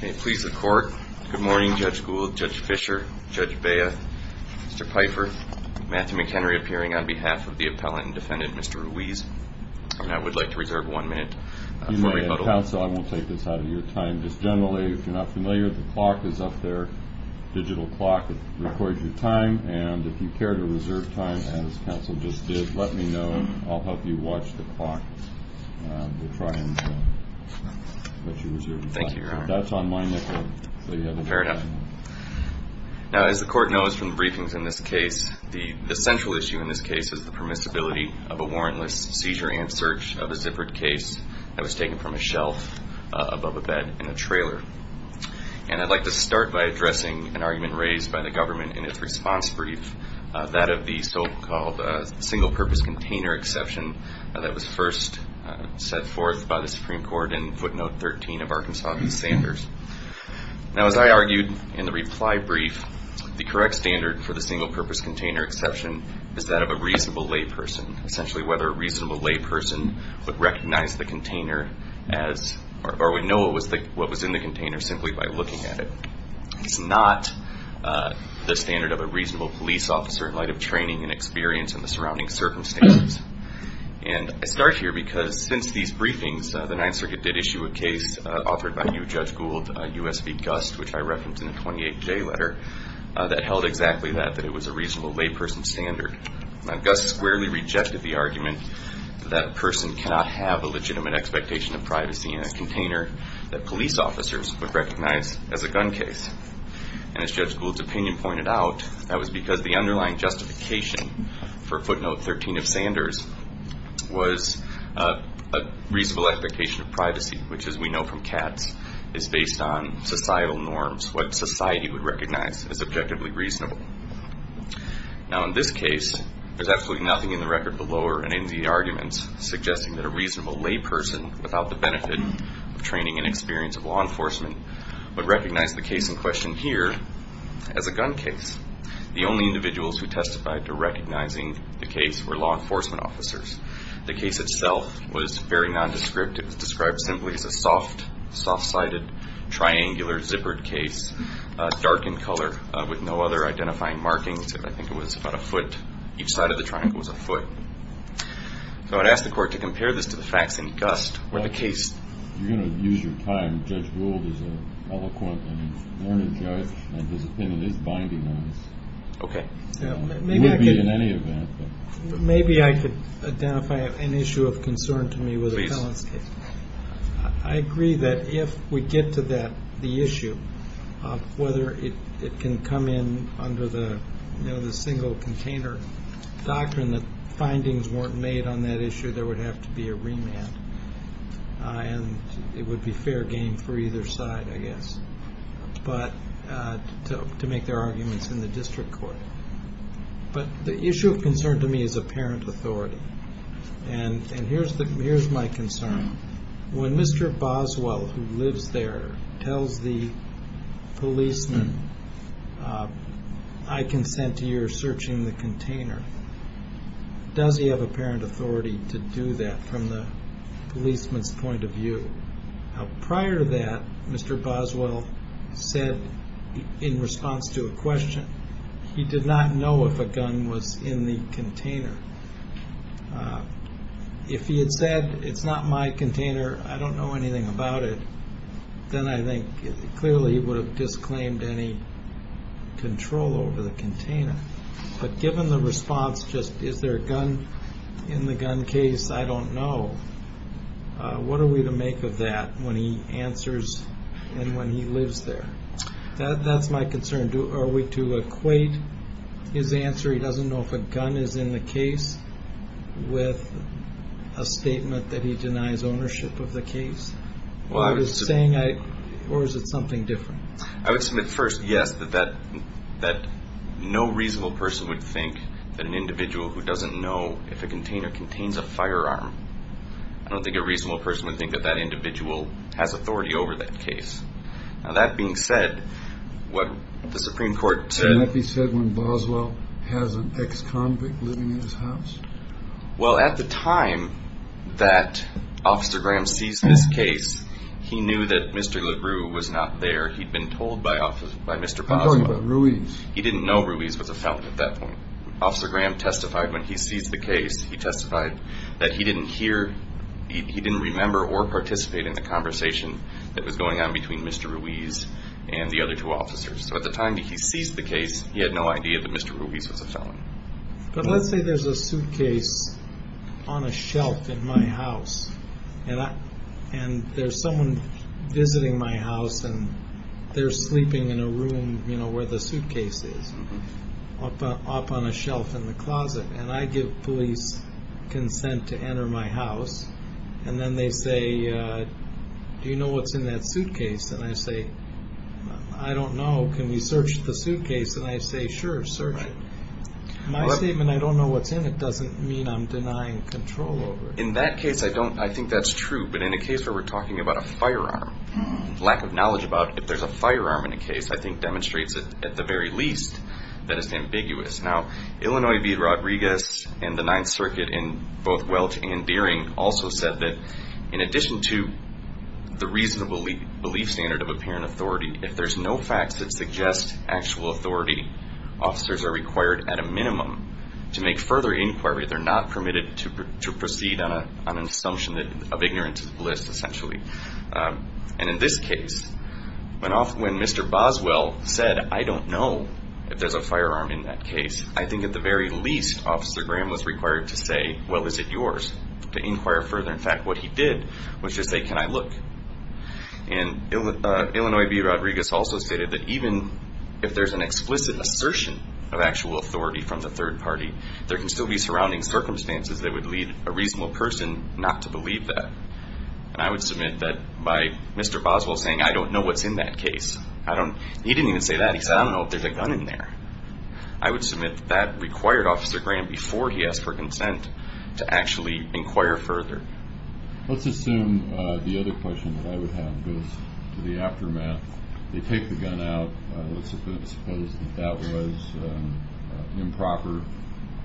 Good morning, Judge Gould, Judge Fischer, Judge Bea, Mr. Pfeiffer, Matthew McHenry appearing on behalf of the appellant and defendant, Mr. Ruiz. I would like to reserve one minute for a rebuttal. Counsel, I won't take this out of your time. Just generally, if you're not familiar, the clock is up there, a digital clock that records your time, and if you care to reserve time as counsel just did, let me know. I'll help you watch the clock. We'll try and let you reserve your time. Thank you, Your Honor. That's on my nickel. Fair enough. Now, as the court knows from the briefings in this case, the central issue in this case is the permissibility of a warrantless seizure and search of a zippered case that was taken from a shelf above a bed in a trailer. And I'd like to start by addressing an argument raised by the government in its response brief, that of the so-called single-purpose container exception that was first set forth by the Supreme Court in footnote 13 of Arkansas v. Sanders. Now, as I argued in the reply brief, the correct standard for the single-purpose container exception is that of a reasonable layperson, essentially whether a reasonable layperson would recognize the container as, or would know what was in the container simply by looking at it. It's not the standard of a reasonable police officer in light of training and experience in the surrounding circumstances. And I start here because since these briefings, the Ninth Circuit did issue a case authored by new Judge Gould, U.S. v. Gust, which I referenced in the 28J letter, that held exactly that, that it was a reasonable layperson standard. Now, Gust squarely rejected the argument that a person cannot have a legitimate expectation of privacy in a container that police officers would recognize as a gun case. And as Judge Gould's opinion pointed out, that was because the underlying justification for footnote 13 of Sanders was a reasonable expectation of privacy, which as we know from cats, is based on societal norms, what society would recognize as objectively reasonable. Now, in this case, there's absolutely nothing in the record below or in any of the arguments suggesting that a reasonable layperson, without the benefit of training and experience of law enforcement, would recognize the case in question here as a gun case. The only individuals who testified to recognizing the case were law enforcement officers. The case itself was very nondescript. It was described simply as a soft, soft-sided, triangular, zippered case, dark in color, with no other identifying markings. I think it was about a foot. Each side of the triangle was a foot. So I'd ask the court to compare this to the facts in Gust or the case. You're going to use your time. Judge Gould is an eloquent and informed judge, and his opinion is binding on this. Okay. It would be in any event. Maybe I could identify an issue of concern to me with the felon's case. I agree that if we get to the issue of whether it can come in under the single container doctrine that findings weren't made on that issue, there would have to be a remand. And it would be fair game for either side, I guess, to make their arguments in the district court. But the issue of concern to me is apparent authority. And here's my concern. When Mr. Boswell, who lives there, tells the policeman, I consent to your searching the container, does he have apparent authority to do that from the policeman's point of view? Prior to that, Mr. Boswell said, in response to a question, he did not know if a gun was in the container. If he had said, it's not my container, I don't know anything about it, then I think clearly he would have disclaimed any control over the container. But given the response, just is there a gun in the gun case? I don't know. What are we to make of that when he answers and when he lives there? That's my concern. Are we to equate his answer? He doesn't know if a gun is in the case with a statement that he denies ownership of the case? Or is it something different? I would submit first, yes, that no reasonable person would think that an individual who doesn't know if a container contains a firearm, I don't think a reasonable person would think that that individual has authority over that case. Now, that being said, what the Supreme Court said... He has an ex-convict living in his house? Well, at the time that Officer Graham seized this case, he knew that Mr. LaRue was not there. He'd been told by Mr. Boswell. I'm talking about Ruiz. He didn't know Ruiz was a felon at that point. Officer Graham testified when he seized the case, he testified that he didn't hear, he didn't remember or participate in the conversation that was going on between Mr. Ruiz and the other two officers. So at the time that he seized the case, he had no idea that Mr. Ruiz was a felon. But let's say there's a suitcase on a shelf in my house, and there's someone visiting my house, and they're sleeping in a room where the suitcase is, up on a shelf in the closet, and I give police consent to enter my house, and then they say, do you know what's in that suitcase? And I say, sure, search it. My statement, I don't know what's in it doesn't mean I'm denying control over it. In that case, I think that's true. But in a case where we're talking about a firearm, lack of knowledge about if there's a firearm in a case, I think demonstrates at the very least that it's ambiguous. Now, Illinois v. Rodriguez and the Ninth Circuit in both Welch and Deering also said that in addition to the reasonable belief standard of apparent authority, if there's no facts that suggest actual authority, officers are required at a minimum to make further inquiry. They're not permitted to proceed on an assumption of ignorance is bliss, essentially. And in this case, when Mr. Boswell said, I don't know if there's a firearm in that case, I think at the very least, Officer Graham was required to say, well, is it yours to inquire further? In fact, what he did was just say, can I look? And Illinois v. Rodriguez also stated that even if there's an explicit assertion of actual authority from the third party, there can still be surrounding circumstances that would lead a reasonable person not to believe that. And I would submit that by Mr. Boswell saying, I don't know what's in that case. He didn't even say that. He said, I don't know if there's a gun in there. I would submit that required Officer Graham before he asked for consent to actually inquire further. Let's assume the other question that I would have goes to the aftermath. They take the gun out. Let's suppose that was improper.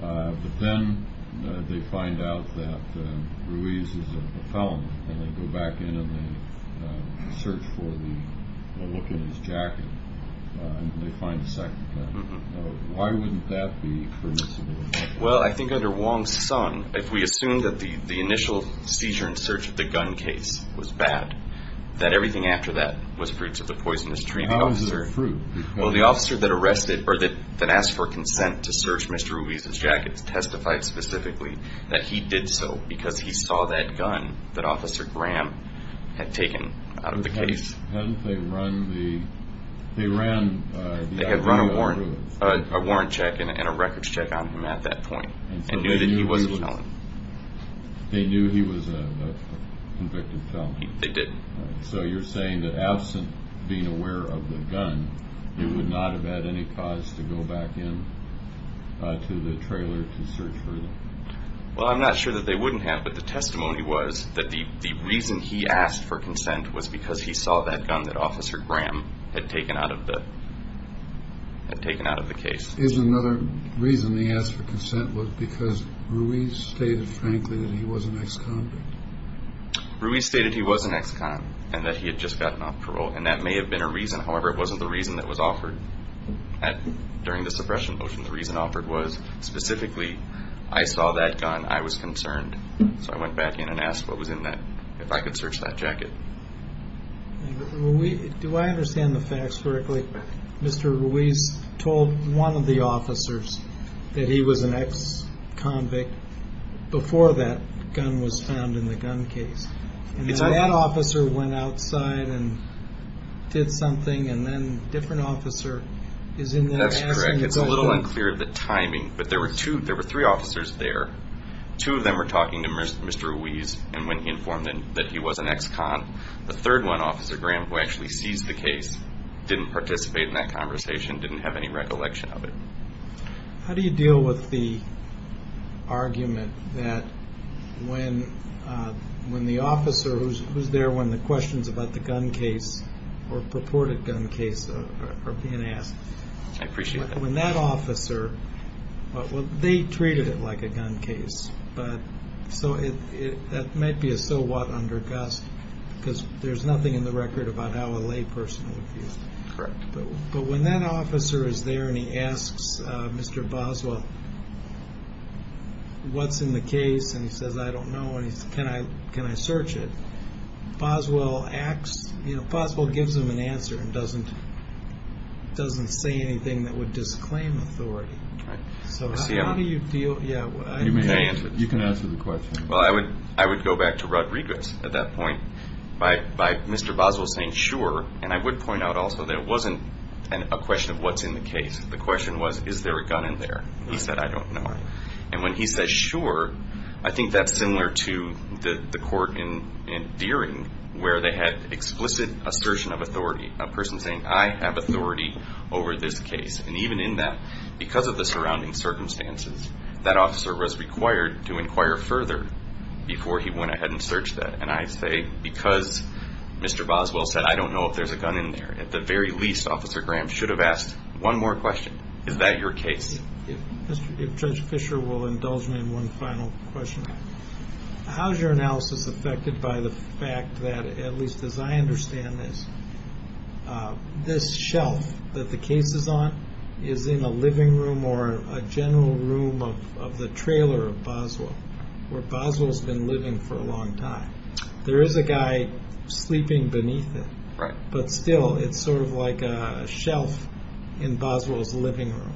But then they find out that Ruiz is a felon and they go back in and they search for the look in his jacket and they find the second gun. Why wouldn't that be permissible? Well, I think under Wong's son, if we assume that the initial seizure and search of the gun case was bad, that everything after that was fruits of the poisonous tree. How is this fruit? Well, the officer that arrested or that asked for consent to search Mr. Ruiz's jacket testified specifically that he did so because he saw that gun that Officer Graham had taken out of the case. Hadn't they run the, they ran a warrant check and a records check on him at that point and knew that he was a felon. They knew he was a convicted felon. They did. So you're saying that absent being aware of the gun, you would not have had any cause to go back in to the trailer to search for them? Well, I'm not sure that they wouldn't have, but the testimony was that the reason he asked for consent was because he saw that gun that Officer Graham had taken out of the case. Here's another reason he asked for consent was because Ruiz stated, frankly, that he was an ex-convict. Ruiz stated he was an ex-con and that he had just gotten off parole. And that may have been a reason. However, it wasn't the reason that was offered during the suppression motion. The reason offered was specifically, I saw that gun. I was concerned. So I went back in and asked what was in that, if I could search that jacket. Do I understand the facts correctly? Mr. Ruiz told one of the officers that he was an ex-convict before that gun was found in the gun case. And that officer went outside and did something and then a different officer is in there asking That's correct. It's a little unclear of the timing, but there were two, there were three officers there. Two of them were talking to Mr. Ruiz and when he informed them that he was an ex-con, the third one, Officer Graham, who actually seized the case, didn't participate in that conversation, didn't have any recollection of it. How do you deal with the argument that when the officer who's there when the questions about the gun case or purported gun case are being asked, when that officer, they treated it like a gun case, but so it might be a so what under gust because there's nothing in the record about how a lay person would view it. Correct. But when that officer is there and he asks Mr. Boswell, what's in the case? And he says, I don't know. And he says, can I search it? Boswell acts, you know, Boswell gives him an answer and doesn't say anything that would disclaim authority. So how do you deal? Yeah, you can answer the question. Well, I would, I would go back to Rodriguez at that point by Mr. Boswell saying, sure. And I would point out also that it wasn't a question of what's in the case. The question was, is there a gun in there? He said, I don't know. And when he says, sure, I think that's similar to the court in Deering where they had explicit assertion of authority, a person saying, I have authority over this case. And even in that, because of the surrounding circumstances, that officer was required to inquire further before he went ahead and searched that. And I say, because Mr. Boswell said, I don't know if there's a gun in there. At the very least, Officer Graham should have asked one more question. Is that your case? If Judge Fischer will indulge me in one final question, how's your analysis affected by the fact that, at least as I understand this, this shelf that the case is on is in a living room or a general room of the trailer of Boswell, where Boswell's been living for a long time. There is a guy sleeping beneath it, but still it's sort of like a shelf in Boswell's living room.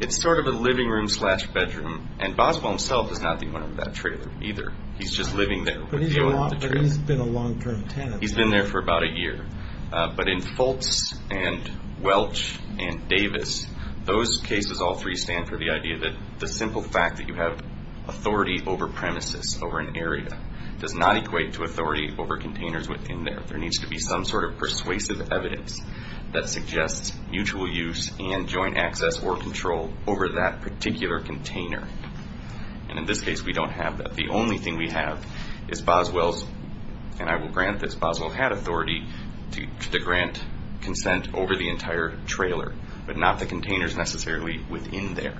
It's sort of a living room slash bedroom. And Boswell himself is not the owner of that trailer either. He's just living there. But he's been a long term tenant. He's been there for about a year. But in Fultz and Welch and Davis, those cases, all three stand for the idea that the simple fact that you have authority over premises, over an area, does not equate to authority over containers within there. There needs to be some sort of persuasive evidence that suggests mutual use and joint access or control over that particular container. And in this case, we don't have that. The only thing we have is Boswell's, and I will grant this, Boswell had authority to grant consent over the entire trailer, but not the containers necessarily within there.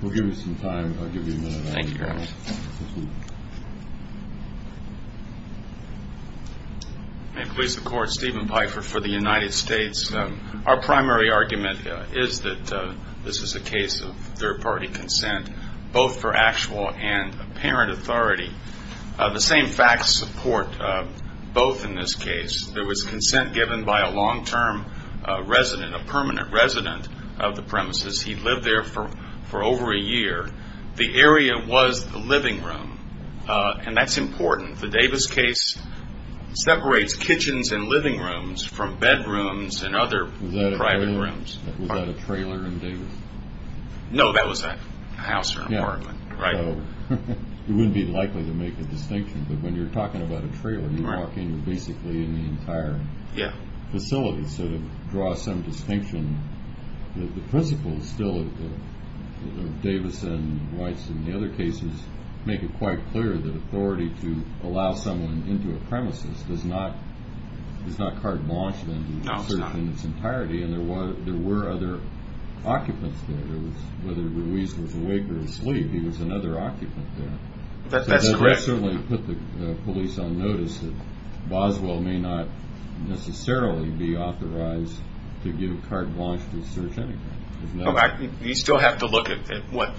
We'll give you some time. I'll give you a minute. Thank you. May it please the court, Stephen Pfeiffer for the United States. Our primary argument is that this is a case of third party consent, both for actual and apparent authority. The same facts support both in this case. There was consent given by a long term resident, a permanent resident of the premises. He lived there for over a year. The area was the living room, and that's important. The Davis case separates kitchens and living rooms from bedrooms and other private rooms. Was that a trailer in Davis? No, that was a house or an apartment. Right. It wouldn't be likely to make a distinction, but when you're talking about a trailer, you're talking basically in the entire facility. So to draw some distinction, the principles still of Davis and Weiss and the other cases make it quite clear that authority to allow someone into a premises is not carte blanche in its entirety. And there were other occupants there, whether Ruiz was awake or asleep. He was another occupant there. That certainly put the police on notice that Boswell may not necessarily be authorized to give carte blanche to search anything. You still have to look at what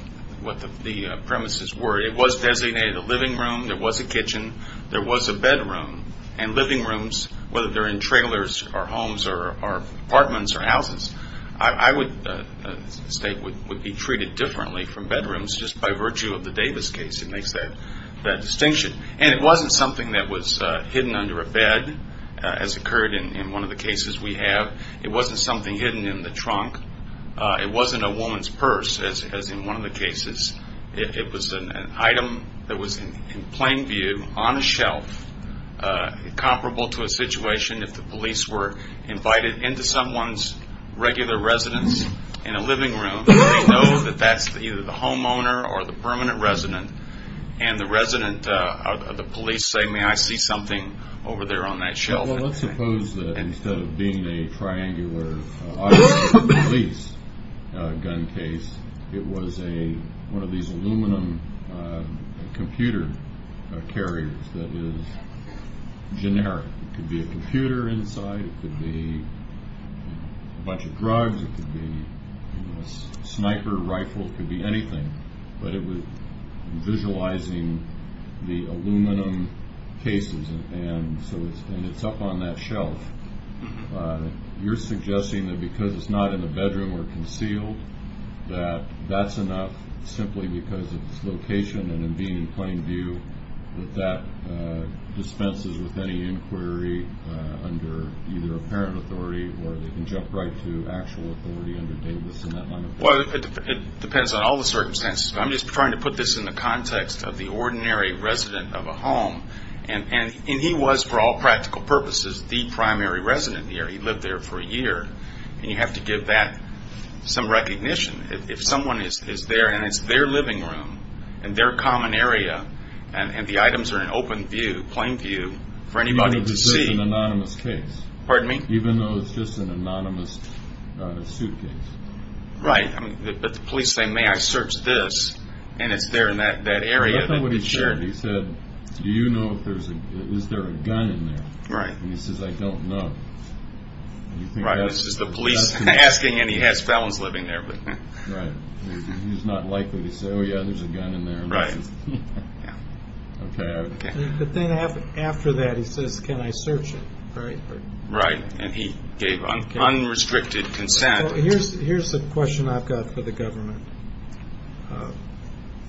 the premises were. It was designated a living room. There was a kitchen. There was a bedroom. And living rooms, whether they're in trailers or homes or apartments or by virtue of the Davis case, it makes that distinction. And it wasn't something that was hidden under a bed, as occurred in one of the cases we have. It wasn't something hidden in the trunk. It wasn't a woman's purse, as in one of the cases. It was an item that was in plain view on a shelf, comparable to a situation if the police were invited into someone's regular residence in a living room, they know that that's either the homeowner or the permanent resident. And the resident, the police say, may I see something over there on that shelf? Well, let's suppose that instead of being a triangular police gun case, it was a, one of these aluminum computer carriers that is generic. It could be a computer inside. It could be a bunch of drugs. It could be a sniper rifle. It could be anything, but it was visualizing the aluminum cases. And so it's, and it's up on that shelf. You're suggesting that because it's not in the bedroom or concealed, that that's enough simply because of its location. And in being in plain view, that that dispenses with any inquiry under either parent authority or the injunct right to actual authority under Davis and that line of work? Well, it depends on all the circumstances, but I'm just trying to put this in the context of the ordinary resident of a home. And, and, and he was for all practical purposes, the primary resident here. He lived there for a year and you have to give that some recognition. If someone is, is there and it's their living room and their common area and the items are in open view, plain view for anybody to see, pardon me? Even though it's just an anonymous suitcase, right? I mean, but the police say, may I search this? And it's there in that, that area. I don't know what he said. He said, do you know if there's a, is there a gun in there? Right. And he says, I don't know. Right. This is the police asking and he has felons living there, but he's not likely to say, Oh yeah, there's a gun in there. Right. But then after that, he says, can I search it? Right. Right. And he gave unrestricted consent. Here's the question I've got for the government.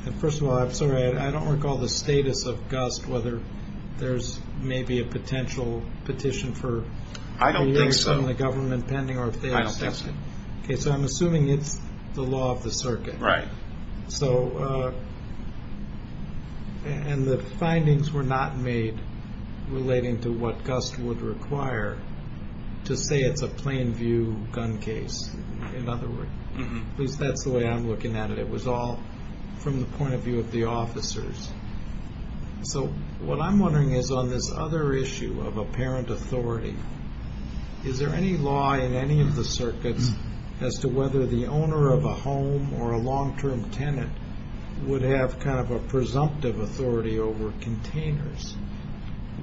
And first of all, I'm sorry, I don't recall the status of gust, whether there's maybe a potential petition for the government pending or if they don't. Okay. So I'm assuming it's the law of the circuit. Right. So, and the findings were not made relating to what gust would require. To say it's a plain view gun case. In other words, at least that's the way I'm looking at it. It was all from the point of view of the officers. So what I'm wondering is on this other issue of apparent authority, is there any law in any of the circuits as to whether the owner of a home or a long-term tenant would have kind of a presumptive authority over containers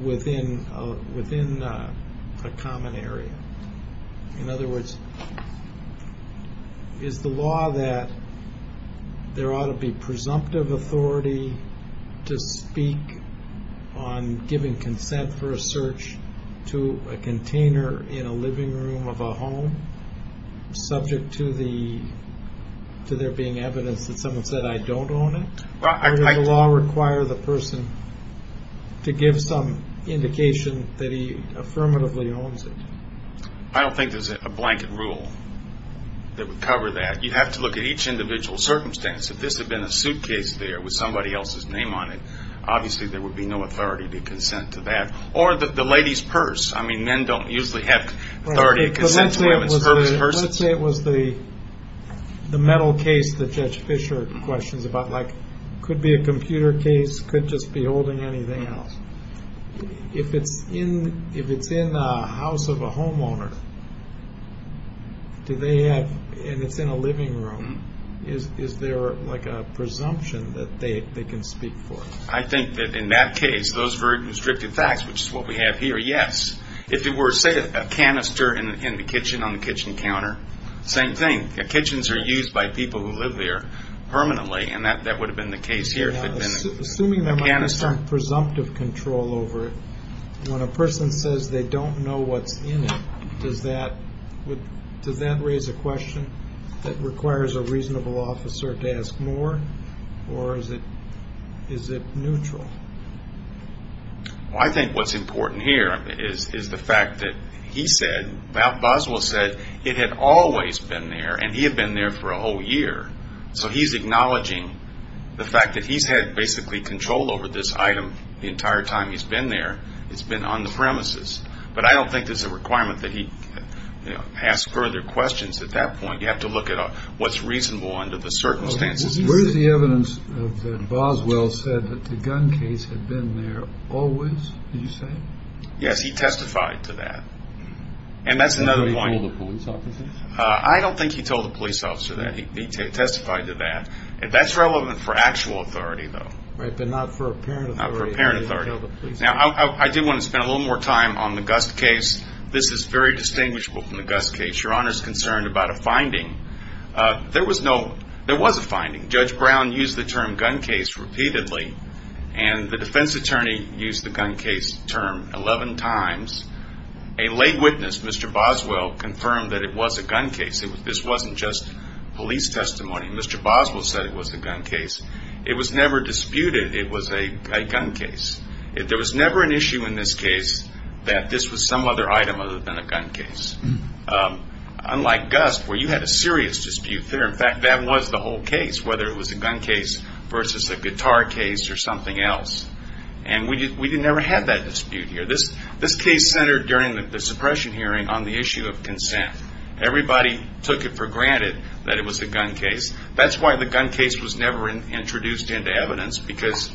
within a common area? In other words, is the law that there ought to be presumptive authority to speak on giving consent for a search to a container in a living room of a home subject to there being evidence that someone said, I don't own it? Does the law require the person to give some indication that he affirmatively owns it? I don't think there's a blanket rule that would cover that. You'd have to look at each individual circumstance. If this had been a suitcase there with somebody else's name on it, obviously there would be no authority to consent to that. Or the lady's purse. I mean, men don't usually have authority to consent to women's purses. Let's say it was the metal case that Judge Fischer questions about. Like, could be a computer case, could just be holding anything else. If it's in the house of a homeowner, and it's in a living room, is there like a presumption that they can speak for it? I think that in that case, those very constrictive facts, which is what we have here, yes. If it were, say, a canister in the kitchen, on the kitchen counter, same thing, the kitchens are used by people who live there permanently. And that would have been the case here. Assuming there might be some presumptive control over it, when a person says they don't know what's in it, does that raise a question that requires a reasonable officer to ask more? Or is it neutral? Well, I think what's important here is the fact that he said, Boswell said, it had always been there, and he had been there for a whole year. So he's acknowledging the fact that he's had basically control over this item the entire time he's been there. It's been on the premises. But I don't think there's a requirement that he ask further questions at that point. You have to look at what's reasonable under the circumstances. Where's the evidence that Boswell said that the gun case had been there always, did you say? Yes, he testified to that. And that's another point. Did he tell the police officers? I don't think he told the police officer that. He testified to that. And that's relevant for actual authority, though. Right, but not for apparent authority. Not for apparent authority. Now, I did want to spend a little more time on the Gust case. This is very distinguishable from the Gust case. Your Honor's concerned about a finding. There was a finding. Judge Brown used the term gun case repeatedly, and the defense attorney used the gun case term 11 times. A late witness, Mr. Boswell, confirmed that it was a gun case. This wasn't just police testimony. Mr. Boswell said it was a gun case. It was never disputed it was a gun case. There was never an issue in this case that this was some other item other than a gun case. Unlike Gust, where you had a serious dispute there. In fact, that was the whole case, whether it was a gun case versus a guitar case or something else. And we didn't ever have that dispute here. This case centered during the suppression hearing on the issue of consent. Everybody took it for granted that it was a gun case. That's why the gun case was never introduced into evidence, because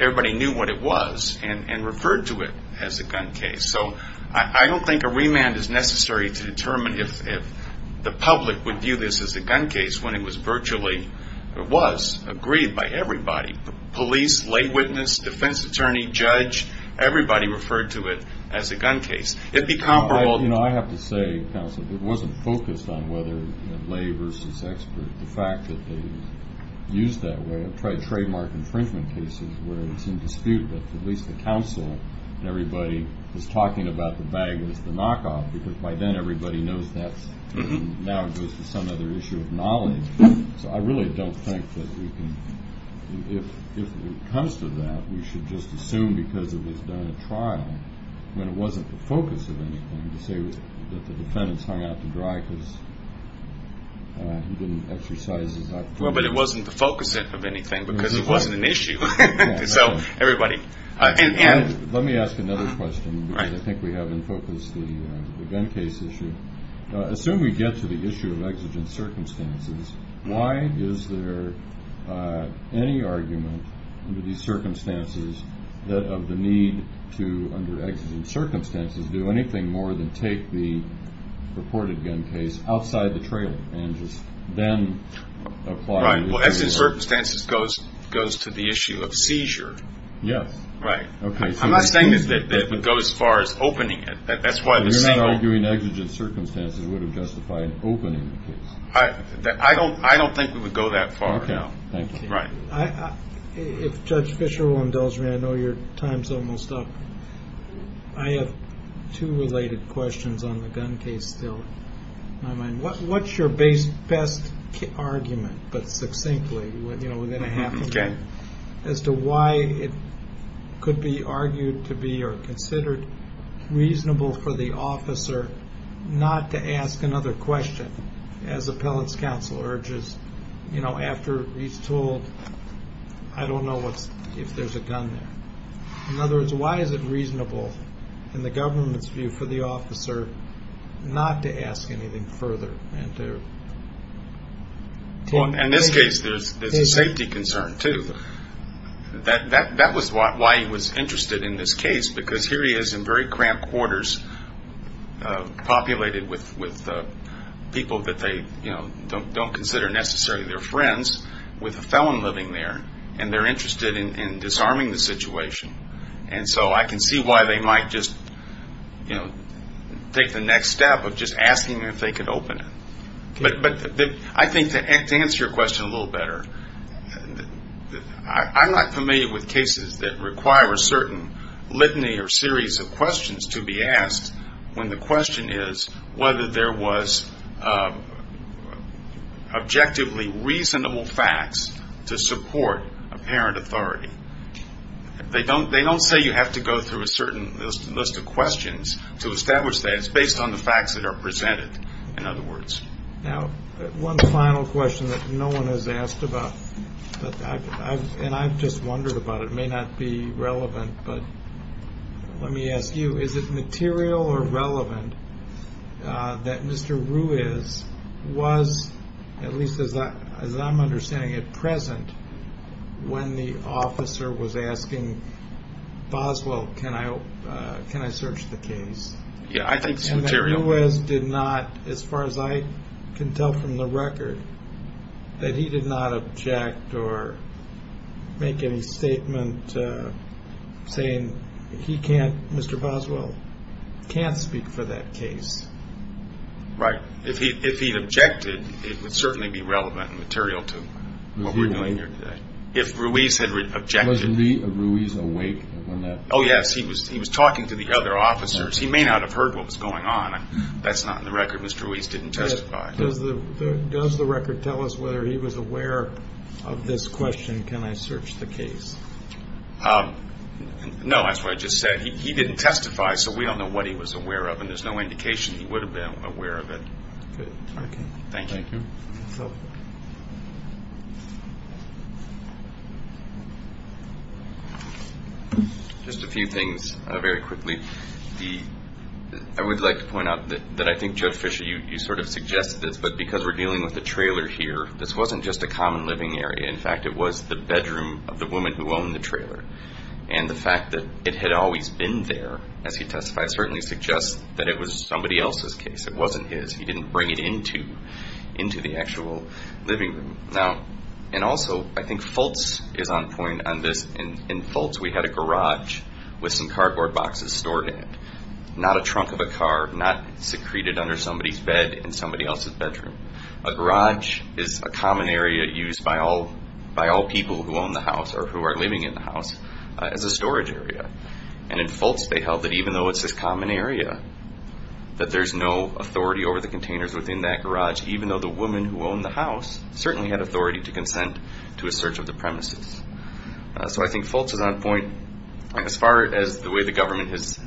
everybody knew what it was and referred to it as a gun case. So I don't think a remand is necessary to determine if the public would view this as a gun case when it was virtually, or was, agreed by everybody. Police, late witness, defense attorney, judge, everybody referred to it as a gun case. It'd be comparable. You know, I have to say, counsel, it wasn't focused on whether lay versus expert. The fact that they used that way of trademark infringement cases where it's in dispute, but at least the counsel and everybody was talking about the bag was the knockoff, because by then everybody knows that now it goes to some other issue of knowledge. So I really don't think that we can, if it comes to that, we should just assume because it was done at trial, when it wasn't the focus of anything, to say that the defendants hung out to dry because he didn't exercise his authority. Well, but it wasn't the focus of anything because it wasn't an issue. So everybody, and let me ask another question, because I think we haven't focused on the gun case issue. As soon as we get to the issue of exigent circumstances, why is there any argument under these circumstances that of the need to, under exigent circumstances, do anything more than take the reported gun case outside the issue of seizure? Yes. Right. Okay. I'm not saying that it would go as far as opening it. That's why the same. You're not arguing exigent circumstances would have justified opening the case. I don't, I don't think we would go that far. Right. If Judge Fischer will indulge me, I know your time's almost up. I have two related questions on the gun case still in my mind. As to why it could be argued to be, or considered reasonable for the officer not to ask another question as appellate's counsel urges, you know, after he's told, I don't know what's, if there's a gun there. In other words, why is it reasonable in the government's view for the officer not to ask anything further and to. In this case, there's a safety concern. That was why he was interested in this case, because here he is in very cramped quarters, populated with people that they don't consider necessarily their friends with a felon living there. And they're interested in disarming the situation. And so I can see why they might just, you know, take the next step of just asking if they could open it. But I think to answer your question a little better, I'm not familiar with cases that require a certain litany or series of questions to be asked when the question is whether there was objectively reasonable facts to support apparent authority. They don't say you have to go through a certain list of questions to establish that it's based on the facts that are presented, in other words. Now, one final question that no one has asked about, and I've just wondered about it, it may not be relevant, but let me ask you, is it material or relevant that Mr. Ruiz was, at least as I'm understanding it, present when the officer was asking Boswell, can I search the case? Yeah, I think it's material. Ruiz did not, as far as I can tell from the record, that he did not object or make any statement saying he can't, Mr. Boswell can't speak for that case. Right. If he, if he objected, it would certainly be relevant and material to what we're doing here today. If Ruiz had objected. Was Ruiz awake when that? Oh yes. He was, he was talking to the other officers. He may not have heard what was going on. That's not in the record. Mr. Ruiz didn't testify. Does the, does the record tell us whether he was aware of this question? Can I search the case? Um, no, that's what I just said. He, he didn't testify, so we don't know what he was aware of and there's no indication he would have been aware of it. Good. Thank you. Just a few things very quickly. The, I would like to point out that, that I think Joe Fisher, you, you sort of suggested this, but because we're dealing with the trailer here, this wasn't just a common living area. In fact, it was the bedroom of the woman who owned the trailer. And the fact that it had always been there as he testified certainly suggests that it was somebody else's case. It wasn't his, he didn't bring it into, into the actual living room. Now, and also I think Fultz is on point on this. In, in Fultz, we had a garage with some cardboard boxes stored in it, not a trunk of a car, not secreted under somebody's bed in somebody else's bedroom. A garage is a common area used by all, by all people who own the house or who are living in the house as a storage area. And in Fultz they held that even though it's this common area, that there's no authority over the containers within that garage, even though the woman who owned the house certainly had authority to consent to a search of the premises. So I think Fultz is on point. As far as the way the government has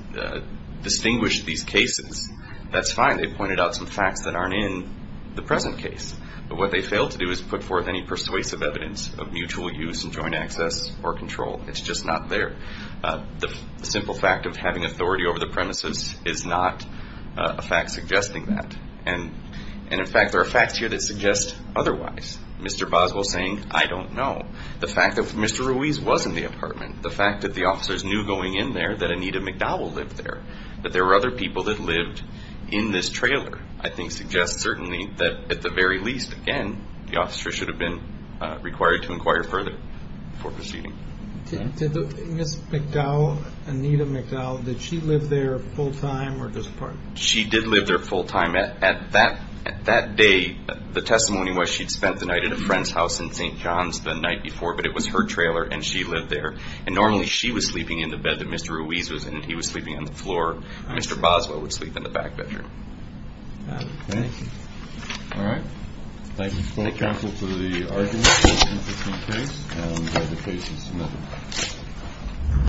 distinguished these cases, that's fine. They pointed out some facts that aren't in the present case, but what they failed to do is put forth any persuasive evidence of mutual use and joint access or control. It's just not there. The simple fact of having authority over the premises is not a fact suggesting that. And, and in fact, there are facts here that suggest otherwise. Mr. Boswell saying, I don't know. The fact that Mr. Ruiz was in the apartment, the fact that the officers knew going in there that Anita McDowell lived there, that there were other people that lived in this trailer, I think suggests certainly that at the very least, again, the officer should have been required to inquire further before proceeding. Ms. McDowell, Anita McDowell, did she live there full time or just apart? She did live there full time. At, at that, that day, the testimony was she'd spent the night at a friend's house in St. John's the night before, but it was her trailer and she lived there. And normally she was sleeping in the bed that Mr. Ruiz was in and he was sleeping on the floor. Mr. Boswell would sleep in the back bedroom. All right. Thank you. Thank you counsel for the argument.